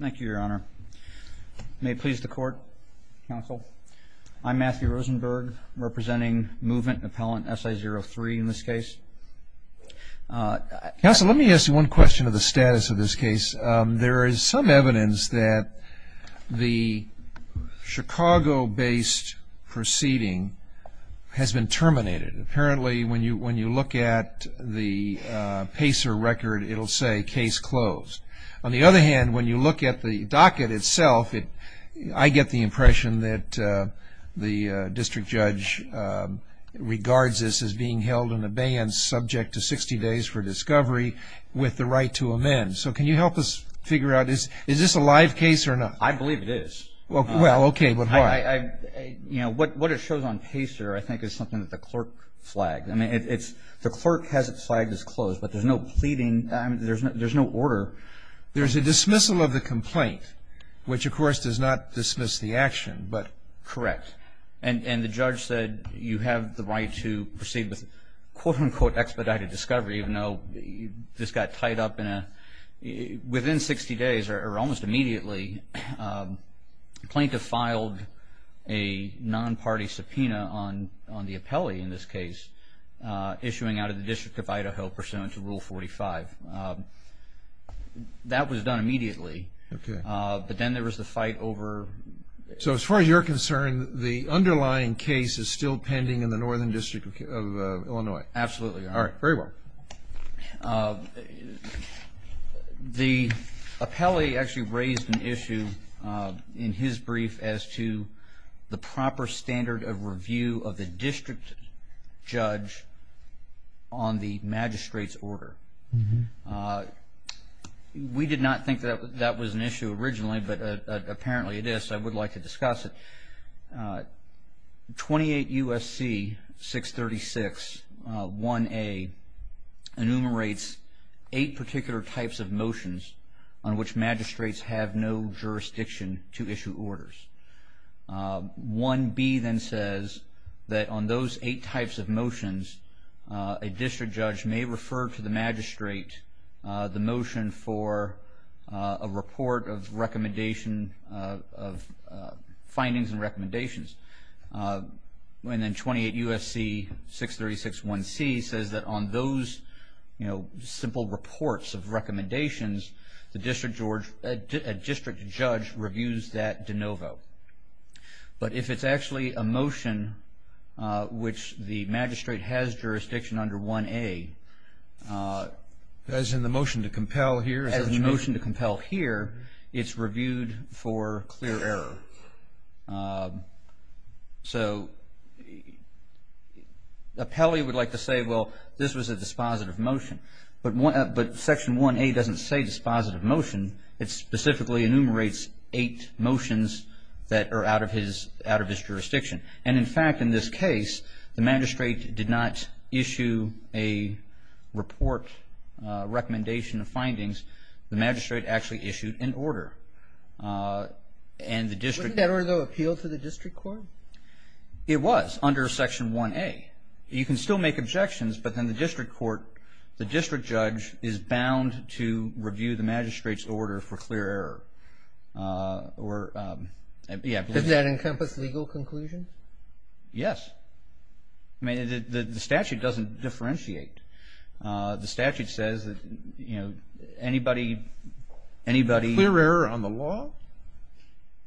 Thank you, Your Honor. May it please the Court, Counsel. I'm Matthew Rosenberg. I'm representing Movement Appellant SI03 in this case. Counsel, let me ask you one question of the status of this case. There is some evidence that the Chicago-based proceeding has been terminated. Apparently, when you look at the PACER record, it'll say, Case Closed. On the other hand, when you look at the docket itself, I get the impression that the district judge regards this as being held in abeyance, subject to 60 days for discovery, with the right to amend. So can you help us figure out, is this a live case or not? I believe it is. Well, okay, but why? What it shows on PACER, I think, is something that the clerk flagged. The clerk has it flagged as closed, but there's no pleading, there's no order. There's a dismissal of the complaint, which, of course, does not dismiss the action, but... Correct. And the judge said you have the right to proceed with, quote-unquote, expedited discovery, even though this got tied up within 60 days, or almost immediately. The plaintiff filed a non-party subpoena on the appellee in this case, issuing out of the District of Idaho, pursuant to Rule 45. That was done immediately, but then there was the fight over... So, as far as you're concerned, the underlying case is still pending in the Northern District of Illinois? Absolutely. All right. Very well. The appellee actually raised an issue in his brief as to the proper standard of review of the district judge on the magistrate's order. We did not think that that was an issue originally, but apparently it is, so I would like to discuss it. 28 U.S.C. 636, 1A, enumerates eight particular types of motions on which magistrates have no jurisdiction to issue that on those eight types of motions, a district judge may refer to the magistrate the motion for a report of findings and recommendations. And then 28 U.S.C. 636, 1C, says that on those simple reports of recommendations, a district judge reviews that de novo. But if it's actually a motion which the magistrate has jurisdiction under 1A... As in the motion to compel here? As in the motion to compel here, it's reviewed for clear error. So, the appellee would like to say, well, this was a dispositive motion. But Section 1A doesn't say dispositive motion. It specifically enumerates eight motions that are out of his jurisdiction. And, in fact, in this case, the magistrate did not issue a report, recommendation of findings. The magistrate actually issued an order. And the district... Wasn't that order, though, appealed to the district court? It was, under Section 1A. You can still make objections, but then the district court, the order for clear error. Or, yeah, I believe... Does that encompass legal conclusion? Yes. I mean, the statute doesn't differentiate. The statute says that, you know, anybody... Clear error on the law?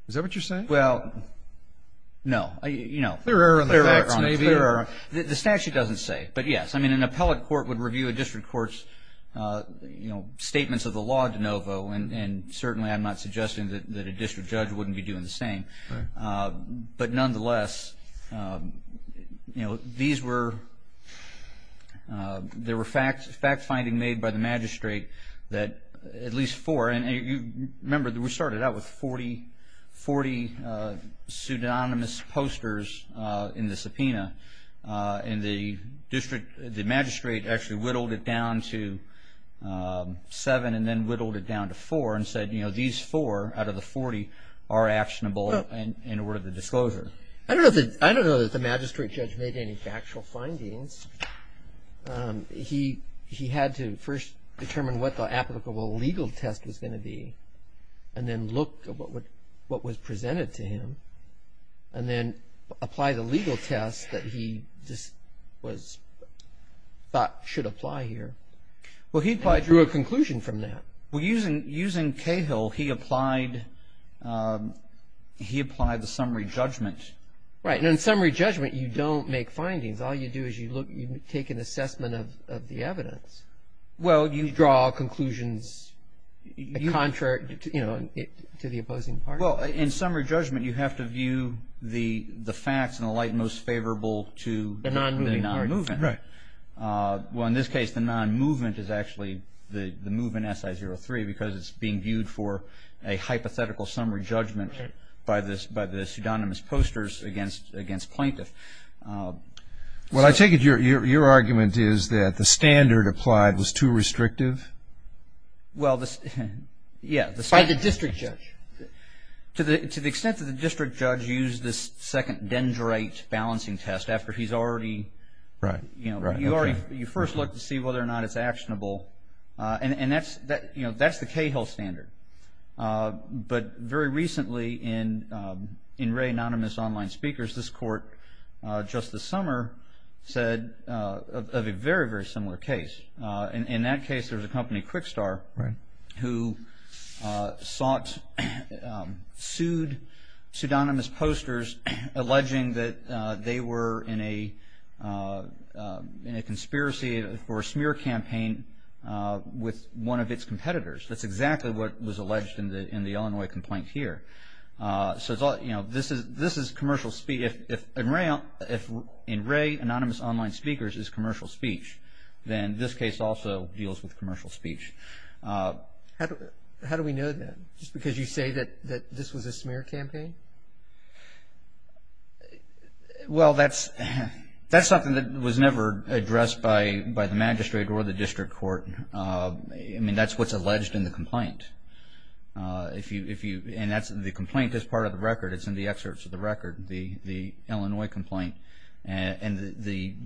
Is that what you're saying? Well, no. You know... Clear error on the facts, maybe? The statute doesn't say. But, yes, I mean, an appellate court would review a district court's, you know, statements of the law de novo. And, certainly, I'm not suggesting that a district judge wouldn't be doing the same. But, nonetheless, you know, these were... There were fact findings made by the magistrate that at least four... And, remember, we started out with 40 pseudonymous posters in the subpoena. And the district... The magistrate actually went on to seven and then whittled it down to four and said, you know, these four out of the 40 are actionable and were the disclosure. I don't know that the magistrate judge made any factual findings. He had to first determine what the applicable legal test was going to be and then look at what was presented to him and then apply the legal test that he thought should apply here and drew a conclusion from that. Well, using Cahill, he applied the summary judgment. Right. And in summary judgment, you don't make findings. All you do is you take an assessment of the evidence. You draw conclusions, you know, to the opposing party. Well, in summary judgment, you have to view the facts in the light most favorable to... The non-moving party. ...the non-movement. Right. Well, in this case, the non-movement is actually the movement SI03 because it's being viewed for a hypothetical summary judgment by the pseudonymous posters against plaintiff. Well, I take it your argument is that the standard applied was too restrictive? Well, the... Yeah, the standard... By the district judge. To the extent that the district judge used this second dendrite balancing test after he's already... Right. You know, you first look to see whether or not it's actionable. And that's the Cahill standard. But very recently in Ray Anonymous Online Speakers, this court just this summer said of a very, very similar case. In that case, there was a company, QuickStar... Right. ...who sought, sued pseudonymous posters alleging that they were in a conspiracy or a smear campaign with one of its competitors. That's exactly what was alleged in the Illinois complaint here. So, you know, this is commercial speech. If in Ray Anonymous Online Speakers is commercial speech, then this case also deals with commercial speech. How do we know that? Just because you say that this was a smear campaign? Well, that's something that was never addressed by the magistrate or the district court. I mean, that's what's alleged in the complaint. And the complaint is part of the record. It's in the excerpts of the record, the Illinois complaint. And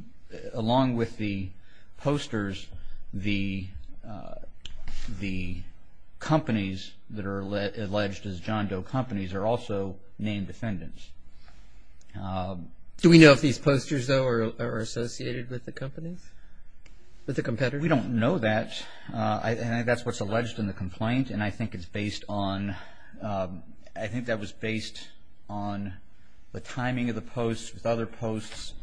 along with the posters, the companies that are alleged as John Doe companies are also named defendants. Do we know if these posters, though, are associated with the companies? With the competitors? We don't know that. And I think that's what's alleged in the complaint. And I think it's based on the timing of the post with other posts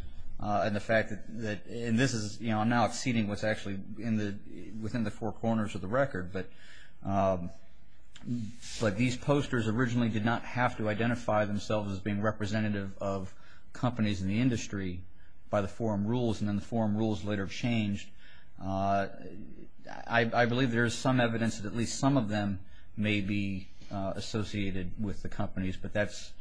and the fact that this is now exceeding what's actually within the four corners of the record. But these posters originally did not have to identify themselves as being representative of companies in the industry by the forum rules. And then the forum rules later changed. I believe there is some evidence that at least some of them may be associated with the companies. But that's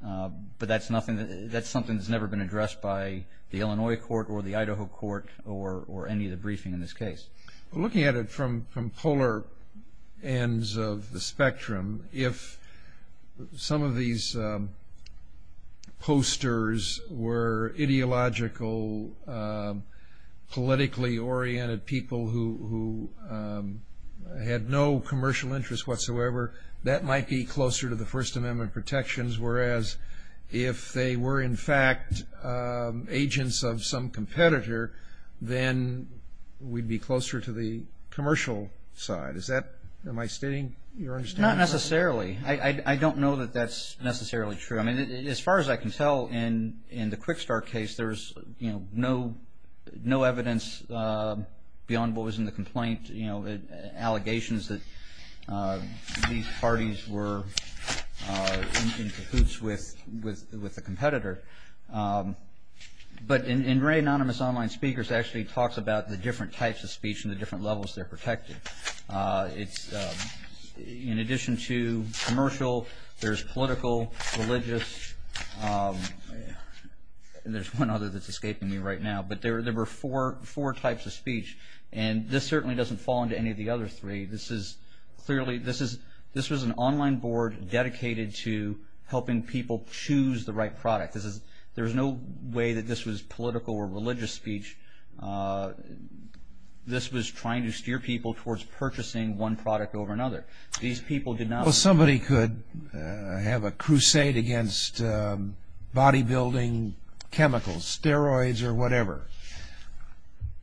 something that's never been addressed by the Illinois court or the Idaho court or any of the briefing in this case. Looking at it from polar ends of the spectrum, if some of these posters were ideological, politically oriented people who had no commercial interest whatsoever, that might be closer to the First Amendment protections. Whereas if they were, in fact, agents of some competitor, then we'd be closer to the commercial side. Is that, am I stating your understanding? Not necessarily. I don't know that that's necessarily true. I mean, as far as I can in the QuickStart case, there's no evidence beyond what was in the complaint, allegations that these parties were in cahoots with a competitor. But in Ray Anonymous Online Speakers, it actually talks about the different types of speech and the different levels they're protected. In addition to commercial, there's political, religious, and there's one other that's escaping me right now. But there were four types of speech. And this certainly doesn't fall into any of the other three. This was an online board dedicated to helping people choose the right product. There's no way that this was political or religious speech. This was trying to steer people towards purchasing one product over another. These people did not... Well, somebody could have a crusade against bodybuilding chemicals, steroids, or whatever,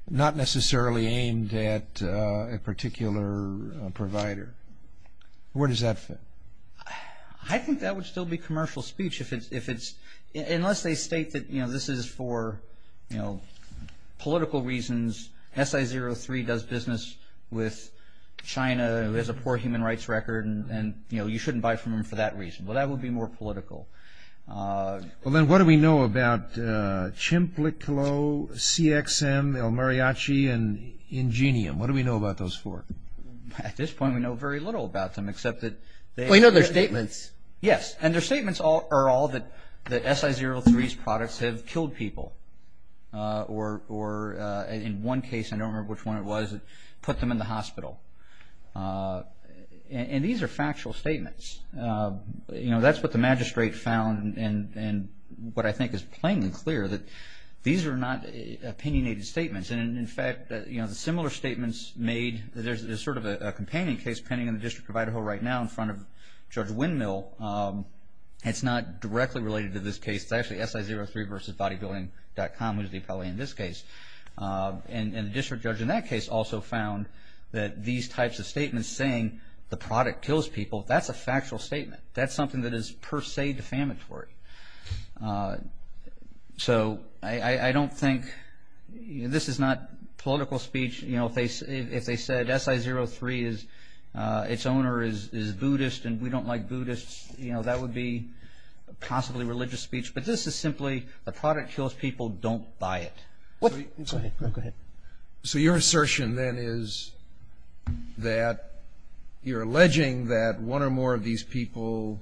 not necessarily aimed at a particular provider. Where does that fit? I think that would still be commercial speech. Unless they state that this is for political reasons, SI03 does business with China, who has a poor human rights record, and you shouldn't buy from them for that reason. Well, that would be more political. Well then, what do we know about Chimpliclo, CXM, El Mariachi, and Ingenium? What do we know about those four? At this point, we know very little about them, except that... Well, you know their statements. Yes, and their statements are all that the SI03's products have killed people, or in one case, I don't remember which one it was, it put them in the hospital. And these are factual statements. That's what the magistrate found, and what I think is plain and clear that these are not opinionated statements. And in fact, similar statements made, there's sort of a companion case pending in the District of Idaho right now in front of Judge Windmill, and it's not directly related to this case, it's actually SI03 versus Bodybuilding.com, who's the appellee in this case. And the district judge in that case also found that these types of statements saying the product kills people, that's a factual statement. That's something that is per se defamatory. So, I don't think, this is not political speech, if they said SI03, its owner is Buddhist, and we don't like Buddhists, that would be possibly religious speech, but this is simply, the product kills people, don't buy it. Go ahead. So, your assertion then is that you're alleging that one or more of these people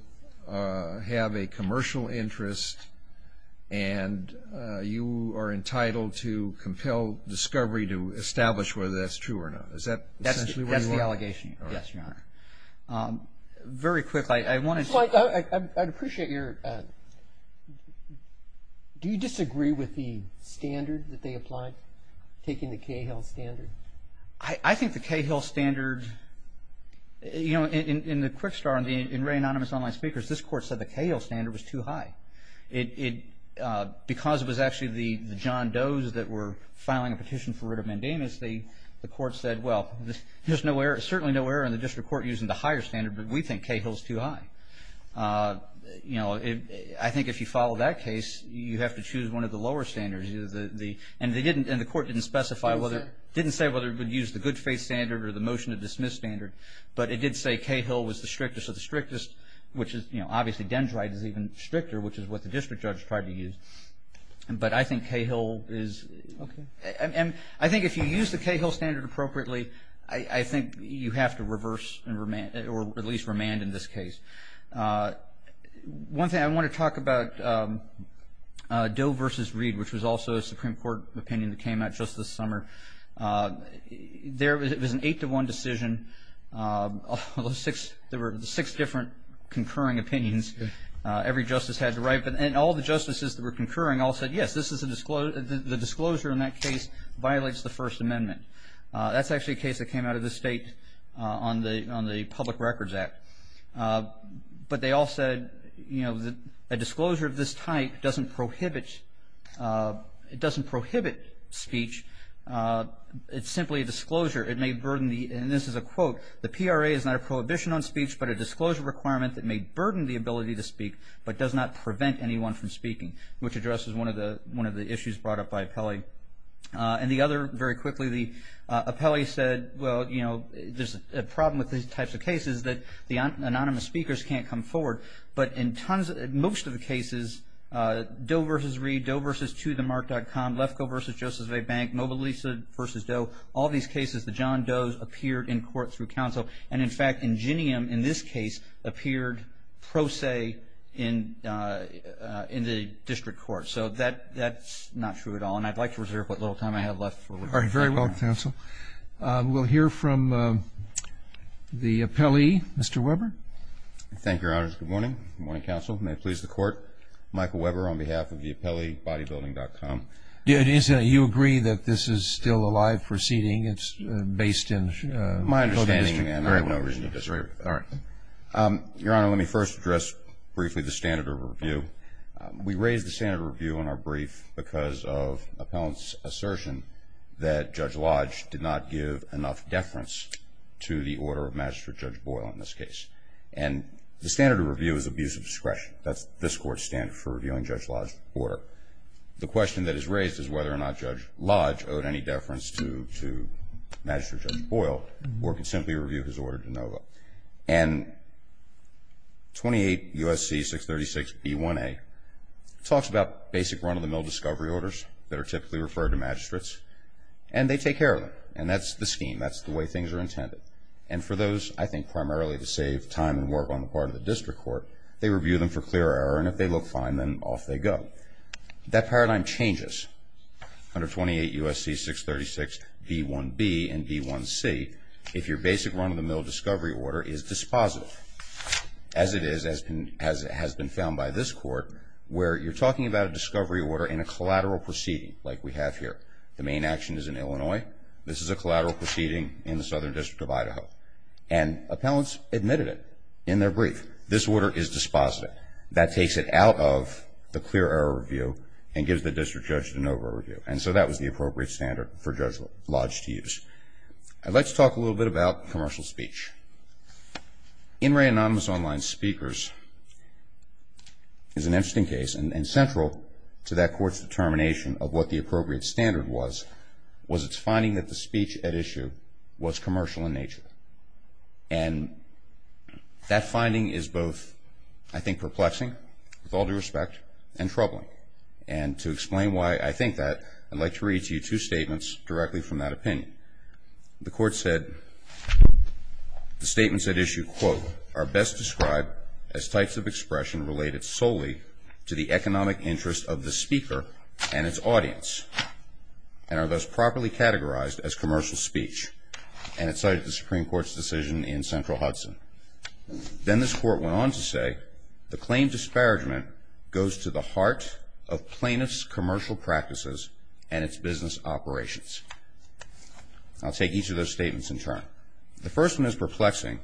have a commercial interest, and you are entitled to compel discovery to establish whether that's true or not. Is that essentially what you are? That's the allegation, yes, Your Honor. Very quickly, I wanted to... I'd appreciate your... Do you disagree with the standard that they applied, taking the Cahill standard? I think the Cahill standard, you know, in the Quick Start, in Ray Anonymous Online Speakers, this court said the Cahill standard was too high. Because it was actually the John Does that were filing a petition for writ of mandamus, because the court said, well, there's certainly no error in the district court using the higher standard, but we think Cahill's too high. You know, I think if you follow that case, you have to choose one of the lower standards. And the court didn't specify whether... Didn't say whether it would use the good faith standard or the motion to dismiss standard, but it did say Cahill was the strictest of the strictest, which is, you know, obviously, Dendrite is even stricter, which is what the district judge tried to use. But I think Cahill is... Okay. I think if you use the Cahill standard appropriately, I think you have to reverse and remand, or at least remand in this case. One thing I want to talk about, Doe versus Reed, which was also a Supreme Court opinion that came out just this summer. It was an eight-to-one decision. There were six different concurring opinions every justice had to write. And all the justices that were concurring all said, yes, the disclosure in that case violates the First Amendment. That's actually a case that came out of the state on the Public Records Act. But they all said, you know, a disclosure of this type doesn't prohibit speech. It's simply a disclosure. It may burden the... And this is a quote, the PRA is not a prohibition on speech but a disclosure requirement that may burden the ability to speak but does not prevent anyone from speaking, which addresses one of the issues brought up by Apelli. And the other, very quickly, Apelli said, well, you know, there's a problem with these types of cases that the anonymous speakers can't come forward. But in most of the cases, Doe versus Reed, Doe versus ToTheMark.com, Lefkoe versus Joseph A. Bank, Mobilisa versus Doe, all these cases, the John Doe's appeared in court through counsel. And, in fact, Ingenium, in this case, appeared pro se in the district court. So that's not true at all. And I'd like to reserve what little time I have left. All right. Very well, counsel. We'll hear from the Apelli. Mr. Weber? Thank you, Your Honors. Good morning. Good morning, counsel. May it please the Court. Michael Weber on behalf of the ApelliBodyBuilding.com. Do you agree that this is still a live proceeding? It's based in... My understanding, and I have no reason to disagree. All right. Your Honor, let me first address briefly the standard of review. We raised the standard of review in our brief because of an appellant's assertion that Judge Lodge did not give enough deference to the order of Magistrate Judge Boyle in this case. And the standard of review is abuse of discretion. So the question that is raised is whether or not Judge Lodge owed any deference to Magistrate Judge Boyle or could simply review his order de novo. And 28 U.S.C. 636b1a talks about basic run-of-the-mill discovery orders that are typically referred to magistrates, and they take care of them. And that's the scheme. That's the way things are intended. And for those, I think primarily to save time and work on the part of the district court, they review them for clear error, and if they look fine, then off they go. That paradigm changes under 28 U.S.C. 636b1b and b1c if your basic run-of-the-mill discovery order is dispositive, as it has been found by this Court, where you're talking about a discovery order in a collateral proceeding like we have here. The main action is in Illinois. This is a collateral proceeding in the Southern District of Idaho. And appellants admitted it in their brief. If this order is dispositive, that takes it out of the clear error review and gives the district judge de novo review. And so that was the appropriate standard for Judge Lodge to use. I'd like to talk a little bit about commercial speech. In re anonymous online speakers is an interesting case, and central to that court's determination of what the appropriate standard was, was its finding that the speech at issue was commercial in nature. And that finding is both, I think, perplexing, with all due respect, and troubling. And to explain why I think that, I'd like to read to you two statements directly from that opinion. The court said the statements at issue, quote, are best described as types of expression related solely to the economic interest of the speaker and its audience, and are thus properly categorized as commercial speech. And it cited the Supreme Court's decision in Central Hudson. Then this court went on to say, the claim disparagement goes to the heart of plaintiff's commercial practices and its business operations. I'll take each of those statements in turn. The first one is perplexing,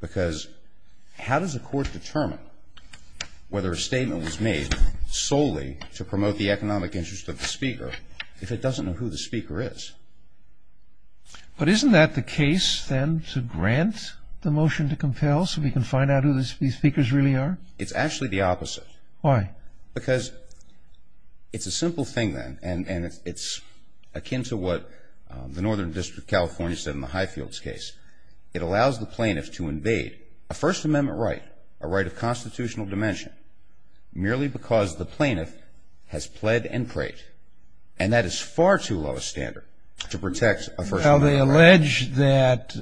because how does a court determine whether a statement was made solely to promote the economic interest of the speaker, if it doesn't know who the speaker is? But isn't that the case, then, to grant the motion to compel, so we can find out who these speakers really are? It's actually the opposite. Why? Because it's a simple thing, then, and it's akin to what the Northern District of California said in the Highfields case. It allows the plaintiff to invade a First Amendment right, merely because the plaintiff has pled and prayed. And that is far too low a standard to protect a First Amendment right. Well, they allege that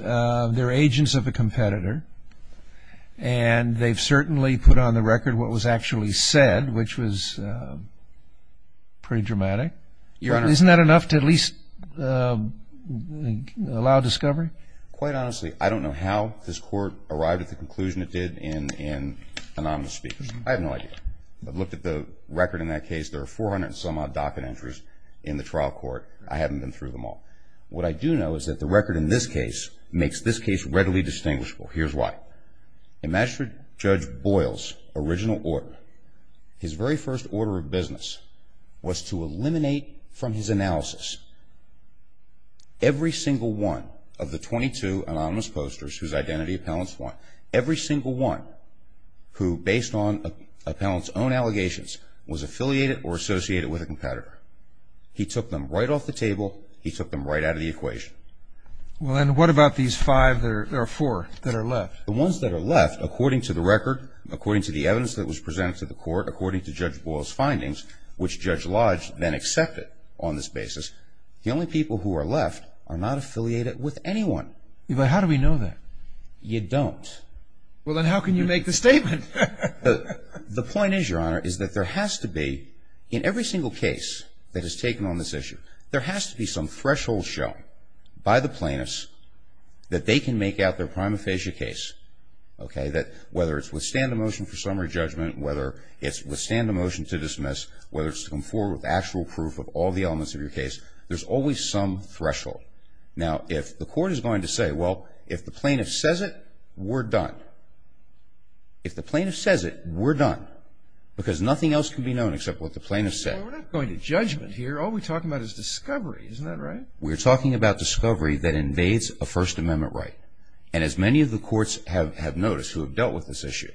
they're agents of a competitor, and they've certainly put on the record what was actually said, which was pretty dramatic. Your Honor. Isn't that enough to at least allow discovery? Quite honestly, I don't know how this court arrived at the conclusion it did in anonymous speakers. I have no idea. I've looked at the record in that case. There are 400-and-some-odd docket entries in the trial court. I haven't been through them all. What I do know is that the record in this case makes this case readily distinguishable. Here's why. In Magistrate Judge Boyle's original order, his very first order of business was to eliminate from his analysis every single one of the 22 anonymous posters whose identity appellants want, every single one who, based on appellants' own allegations, was affiliated or associated with a competitor. He took them right off the table. He took them right out of the equation. Well, and what about these five or four that are left? The ones that are left, according to the record, according to the evidence that was presented to the court, according to Judge Boyle's findings, which Judge Lodge then accepted on this basis, the only people who are left are not affiliated with anyone. But how do we know that? You don't. Well, then how can you make the statement? The point is, Your Honor, is that there has to be, in every single case that is taken on this issue, there has to be some threshold shown by the plaintiffs that they can make out their prima facie case, okay, that whether it's withstand a motion for summary judgment, whether it's withstand a motion to dismiss, whether it's come forward with actual proof of all the elements of your case, there's always some threshold. Now, if the court is going to say, well, if the plaintiff says it, we're done. If the plaintiff says it, we're done. Because nothing else can be known except what the plaintiff said. We're not going to judgment here. All we're talking about is discovery. Isn't that right? We're talking about discovery that invades a First Amendment right. And as many of the courts have noticed who have dealt with this issue,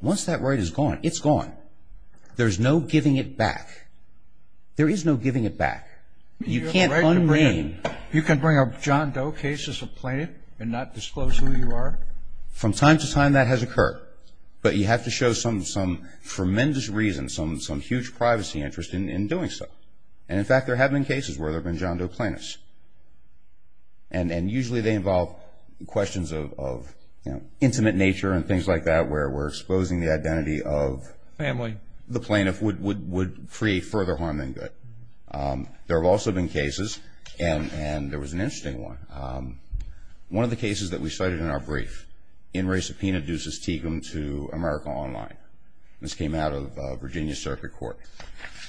once that right is gone, it's gone. There's no giving it back. There is no giving it back. You can't unmean. You can bring up John Doe cases of plaintiff and not disclose who you are? From time to time that has occurred. But you have to show some tremendous reason, some huge privacy interest in doing so. And, in fact, there have been cases where there have been John Doe plaintiffs. And usually they involve questions of intimate nature and things like that where we're exposing the identity of the plaintiff would create further harm than good. There have also been cases, and there was an interesting one, one of the cases that we cited in our brief, in re-subpoena Deuces-Tegum to America Online. This came out of Virginia Circuit Court.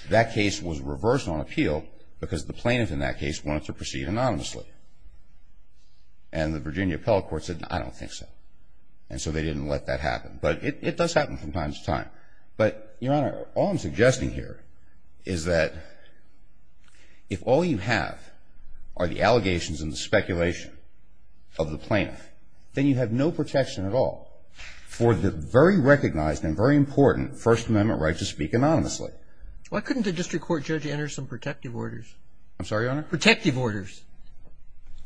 That case was reversed on appeal because the plaintiff in that case wanted to proceed anonymously. And the Virginia Appellate Court said, I don't think so. And so they didn't let that happen. But it does happen from time to time. But, Your Honor, all I'm suggesting here is that if all you have are the allegations and the speculation of the plaintiff, then you have no protection at all for the very recognized and very important First Amendment right to speak anonymously. Why couldn't the district court judge enter some protective orders? I'm sorry, Your Honor? Protective orders.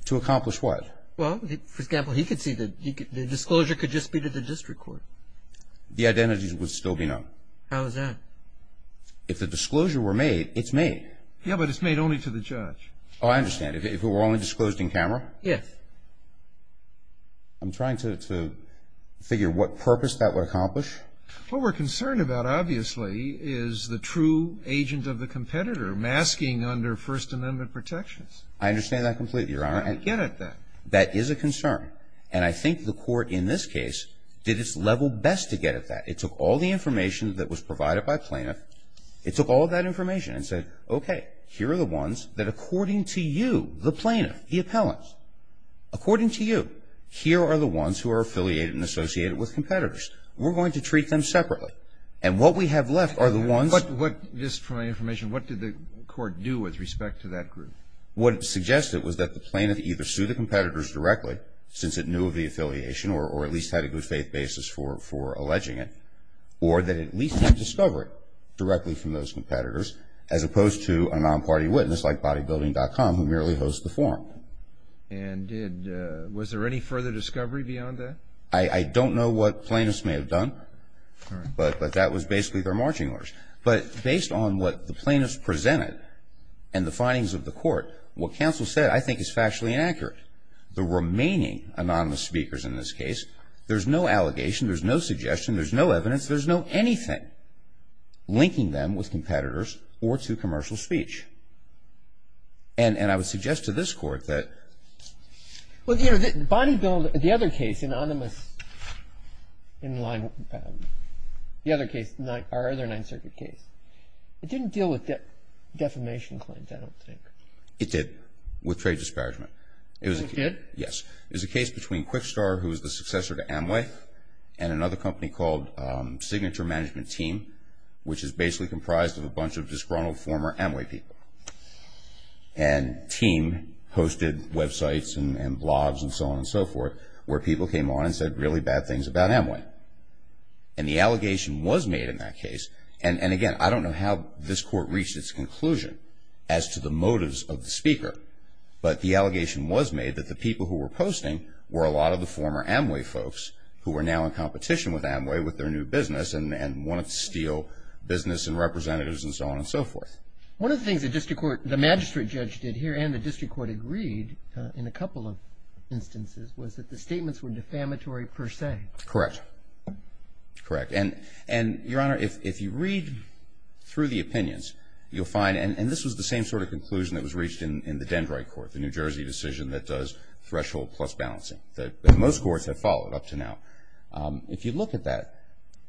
To accomplish what? Well, for example, he could see the disclosure could just be to the district court. The identities would still be known. How is that? If the disclosure were made, it's made. Yeah, but it's made only to the judge. Oh, I understand. If it were only disclosed in camera? Yes. I'm trying to figure what purpose that would accomplish. What we're concerned about, obviously, is the true agent of the competitor masking under First Amendment protections. I understand that completely, Your Honor. I don't get it, then. That is a concern. And I think the court in this case did its level best to get at that. It took all the information that was provided by plaintiff. It took all of that information and said, okay, here are the ones that according to you, the plaintiff, the appellant, according to you, here are the ones who are affiliated and associated with competitors. We're going to treat them separately. And what we have left are the ones that are not. Just for my information, what did the court do with respect to that group? What it suggested was that the plaintiff either sued the competitors directly, since it knew of the affiliation or at least had a good faith basis for alleging it, or that it at least didn't discover it directly from those competitors, as opposed to a non-party witness like BodyBuilding.com who merely hosts the forum. And was there any further discovery beyond that? I don't know what plaintiffs may have done, but that was basically their marching orders. But based on what the plaintiffs presented and the findings of the court, what counsel said I think is factually inaccurate. The remaining anonymous speakers in this case, there's no allegation. There's no suggestion. There's no evidence. There's no anything linking them with competitors or to commercial speech. And I would suggest to this Court that ---- The other case, anonymous, the other case, our other Ninth Circuit case, it didn't deal with defamation claims, I don't think. It did, with trade disparagement. It did? Yes. It was a case between QuickStar, who was the successor to Amway, and another company called Signature Management Team, which is basically comprised of a bunch of disgruntled former Amway people. And Team posted websites and blobs and so on and so forth where people came on and said really bad things about Amway. And the allegation was made in that case. And again, I don't know how this Court reached its conclusion as to the motives of the speaker, but the allegation was made that the people who were posting were a lot of the former Amway folks who were now in competition with Amway with their new business and wanted to steal business and representatives and so on and so forth. One of the things the magistrate judge did here and the district court agreed in a couple of instances was that the statements were defamatory per se. Correct. Correct. And, Your Honor, if you read through the opinions, you'll find, and this was the same sort of conclusion that was reached in the Dendrite Court, the New Jersey decision that does threshold plus balancing that most courts have followed up to now. If you look at that,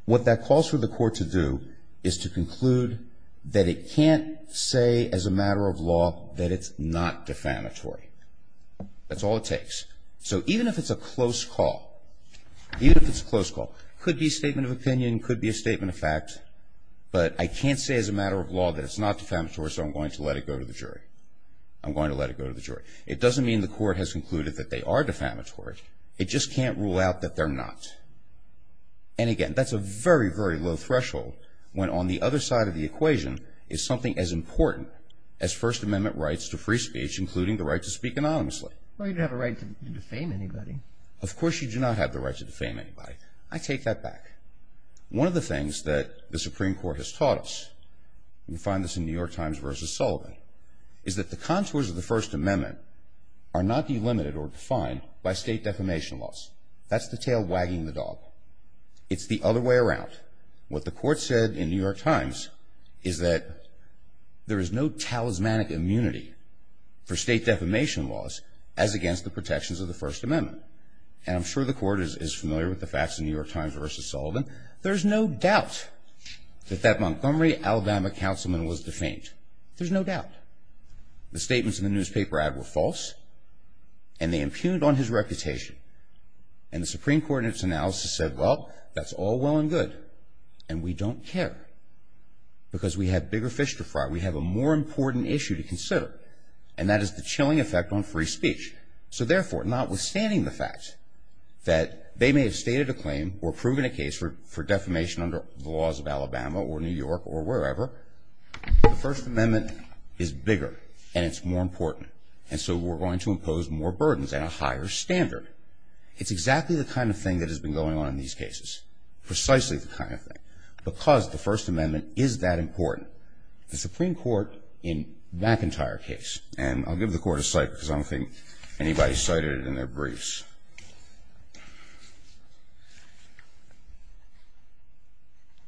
what that calls for the court to do is to conclude that it can't say as a matter of law that it's not defamatory. That's all it takes. So even if it's a close call, even if it's a close call, could be a statement of opinion, could be a statement of fact, but I can't say as a matter of law that it's not defamatory, so I'm going to let it go to the jury. I'm going to let it go to the jury. It doesn't mean the court has concluded that they are defamatory. It just can't rule out that they're not. And, again, that's a very, very low threshold when on the other side of the equation is something as important as First Amendment rights to free speech, including the right to speak anonymously. Well, you don't have a right to defame anybody. Of course you do not have the right to defame anybody. I take that back. One of the things that the Supreme Court has taught us, you find this in New York Times versus Sullivan, is that the contours of the First Amendment are not delimited or defined by state defamation laws. That's the tail wagging the dog. It's the other way around. What the court said in New York Times is that there is no talismanic immunity for state defamation laws as against the protections of the First Amendment. And I'm sure the court is familiar with the facts in New York Times versus Sullivan. There's no doubt that that Montgomery, Alabama, councilman was defamed. There's no doubt. The statements in the newspaper ad were false, and they impugned on his reputation. And the Supreme Court in its analysis said, well, that's all well and good, and we don't care because we have bigger fish to fry. We have a more important issue to consider, and that is the chilling effect on free speech. So therefore, notwithstanding the fact that they may have stated a claim or proven a case for defamation under the laws of Alabama or New York or wherever, the First Amendment is bigger, and it's more important. And so we're going to impose more burdens and a higher standard. It's exactly the kind of thing that has been going on in these cases, precisely the kind of thing, because the First Amendment is that important. The Supreme Court in McIntyre's case, and I'll give the court a cite because I don't think anybody cited it in their briefs.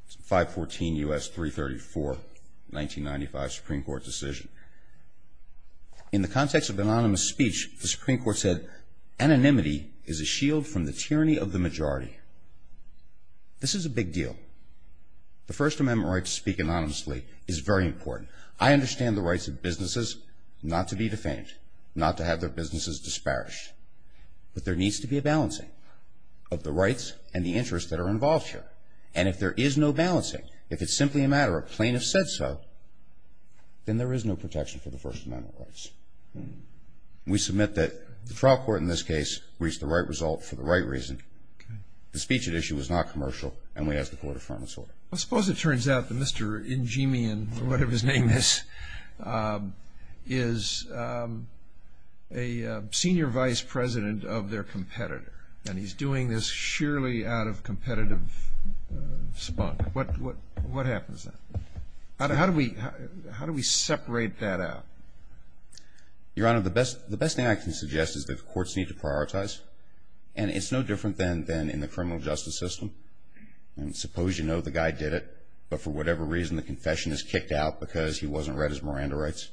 It's 514 U.S. 334, 1995 Supreme Court decision. In the context of anonymous speech, the Supreme Court said, anonymity is a shield from the tyranny of the majority. This is a big deal. The First Amendment right to speak anonymously is very important. I understand the rights of businesses not to be defamed, not to have their businesses disparaged. But there needs to be a balancing of the rights and the interests that are involved here. And if there is no balancing, if it's simply a matter of plaintiffs said so, then there is no protection for the First Amendment rights. We submit that the trial court in this case reached the right result for the right reason. The speech at issue was not commercial, and we ask the court to affirm its order. I suppose it turns out that Mr. Njemian, for whatever his name is, is a senior vice president of their competitor, and he's doing this sheerly out of competitive spunk. What happens then? How do we separate that out? Your Honor, the best thing I can suggest is that the courts need to prioritize, and it's no different than in the criminal justice system. Suppose you know the guy did it, but for whatever reason the confession is kicked out because he wasn't read his Miranda rights.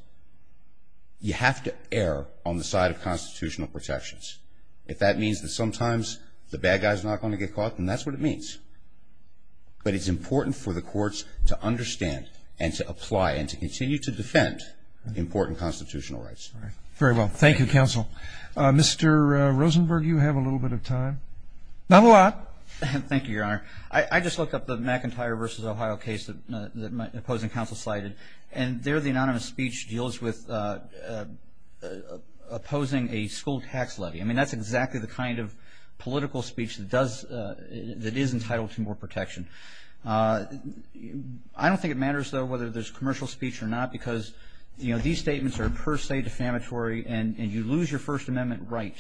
You have to err on the side of constitutional protections. If that means that sometimes the bad guy is not going to get caught, then that's what it means. But it's important for the courts to understand and to apply and to continue to defend important constitutional rights. Very well. Thank you, counsel. Mr. Rosenberg, you have a little bit of time. Not a lot. Thank you, Your Honor. I just looked up the McIntyre v. Ohio case that my opposing counsel cited, and there the anonymous speech deals with opposing a school tax levy. I mean, that's exactly the kind of political speech that is entitled to more protection. I don't think it matters, though, whether there's commercial speech or not, because these statements are per se defamatory, and you lose your First Amendment right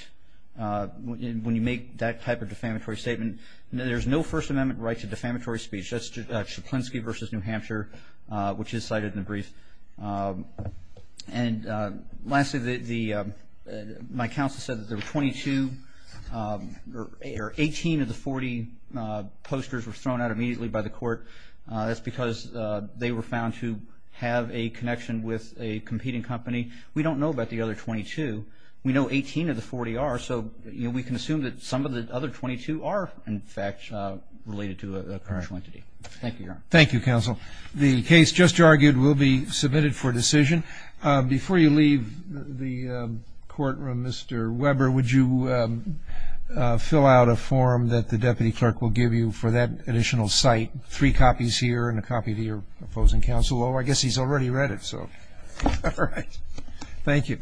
when you make that type of defamatory statement. There's no First Amendment right to defamatory speech. That's Szaplinski v. New Hampshire, which is cited in the brief. Lastly, my counsel said that there were 22 or 18 of the 40 posters were thrown out immediately by the court. That's because they were found to have a connection with a competing company. We don't know about the other 22. We know 18 of the 40 are, so we can assume that some of the other 22 are, in fact, related to a commercial entity. Thank you, Your Honor. Thank you, counsel. The case just argued will be submitted for decision. Before you leave the courtroom, Mr. Weber, would you fill out a form that the deputy clerk will give you for that additional cite, three copies here and a copy to your opposing counsel? Oh, I guess he's already read it, so. All right. Thank you.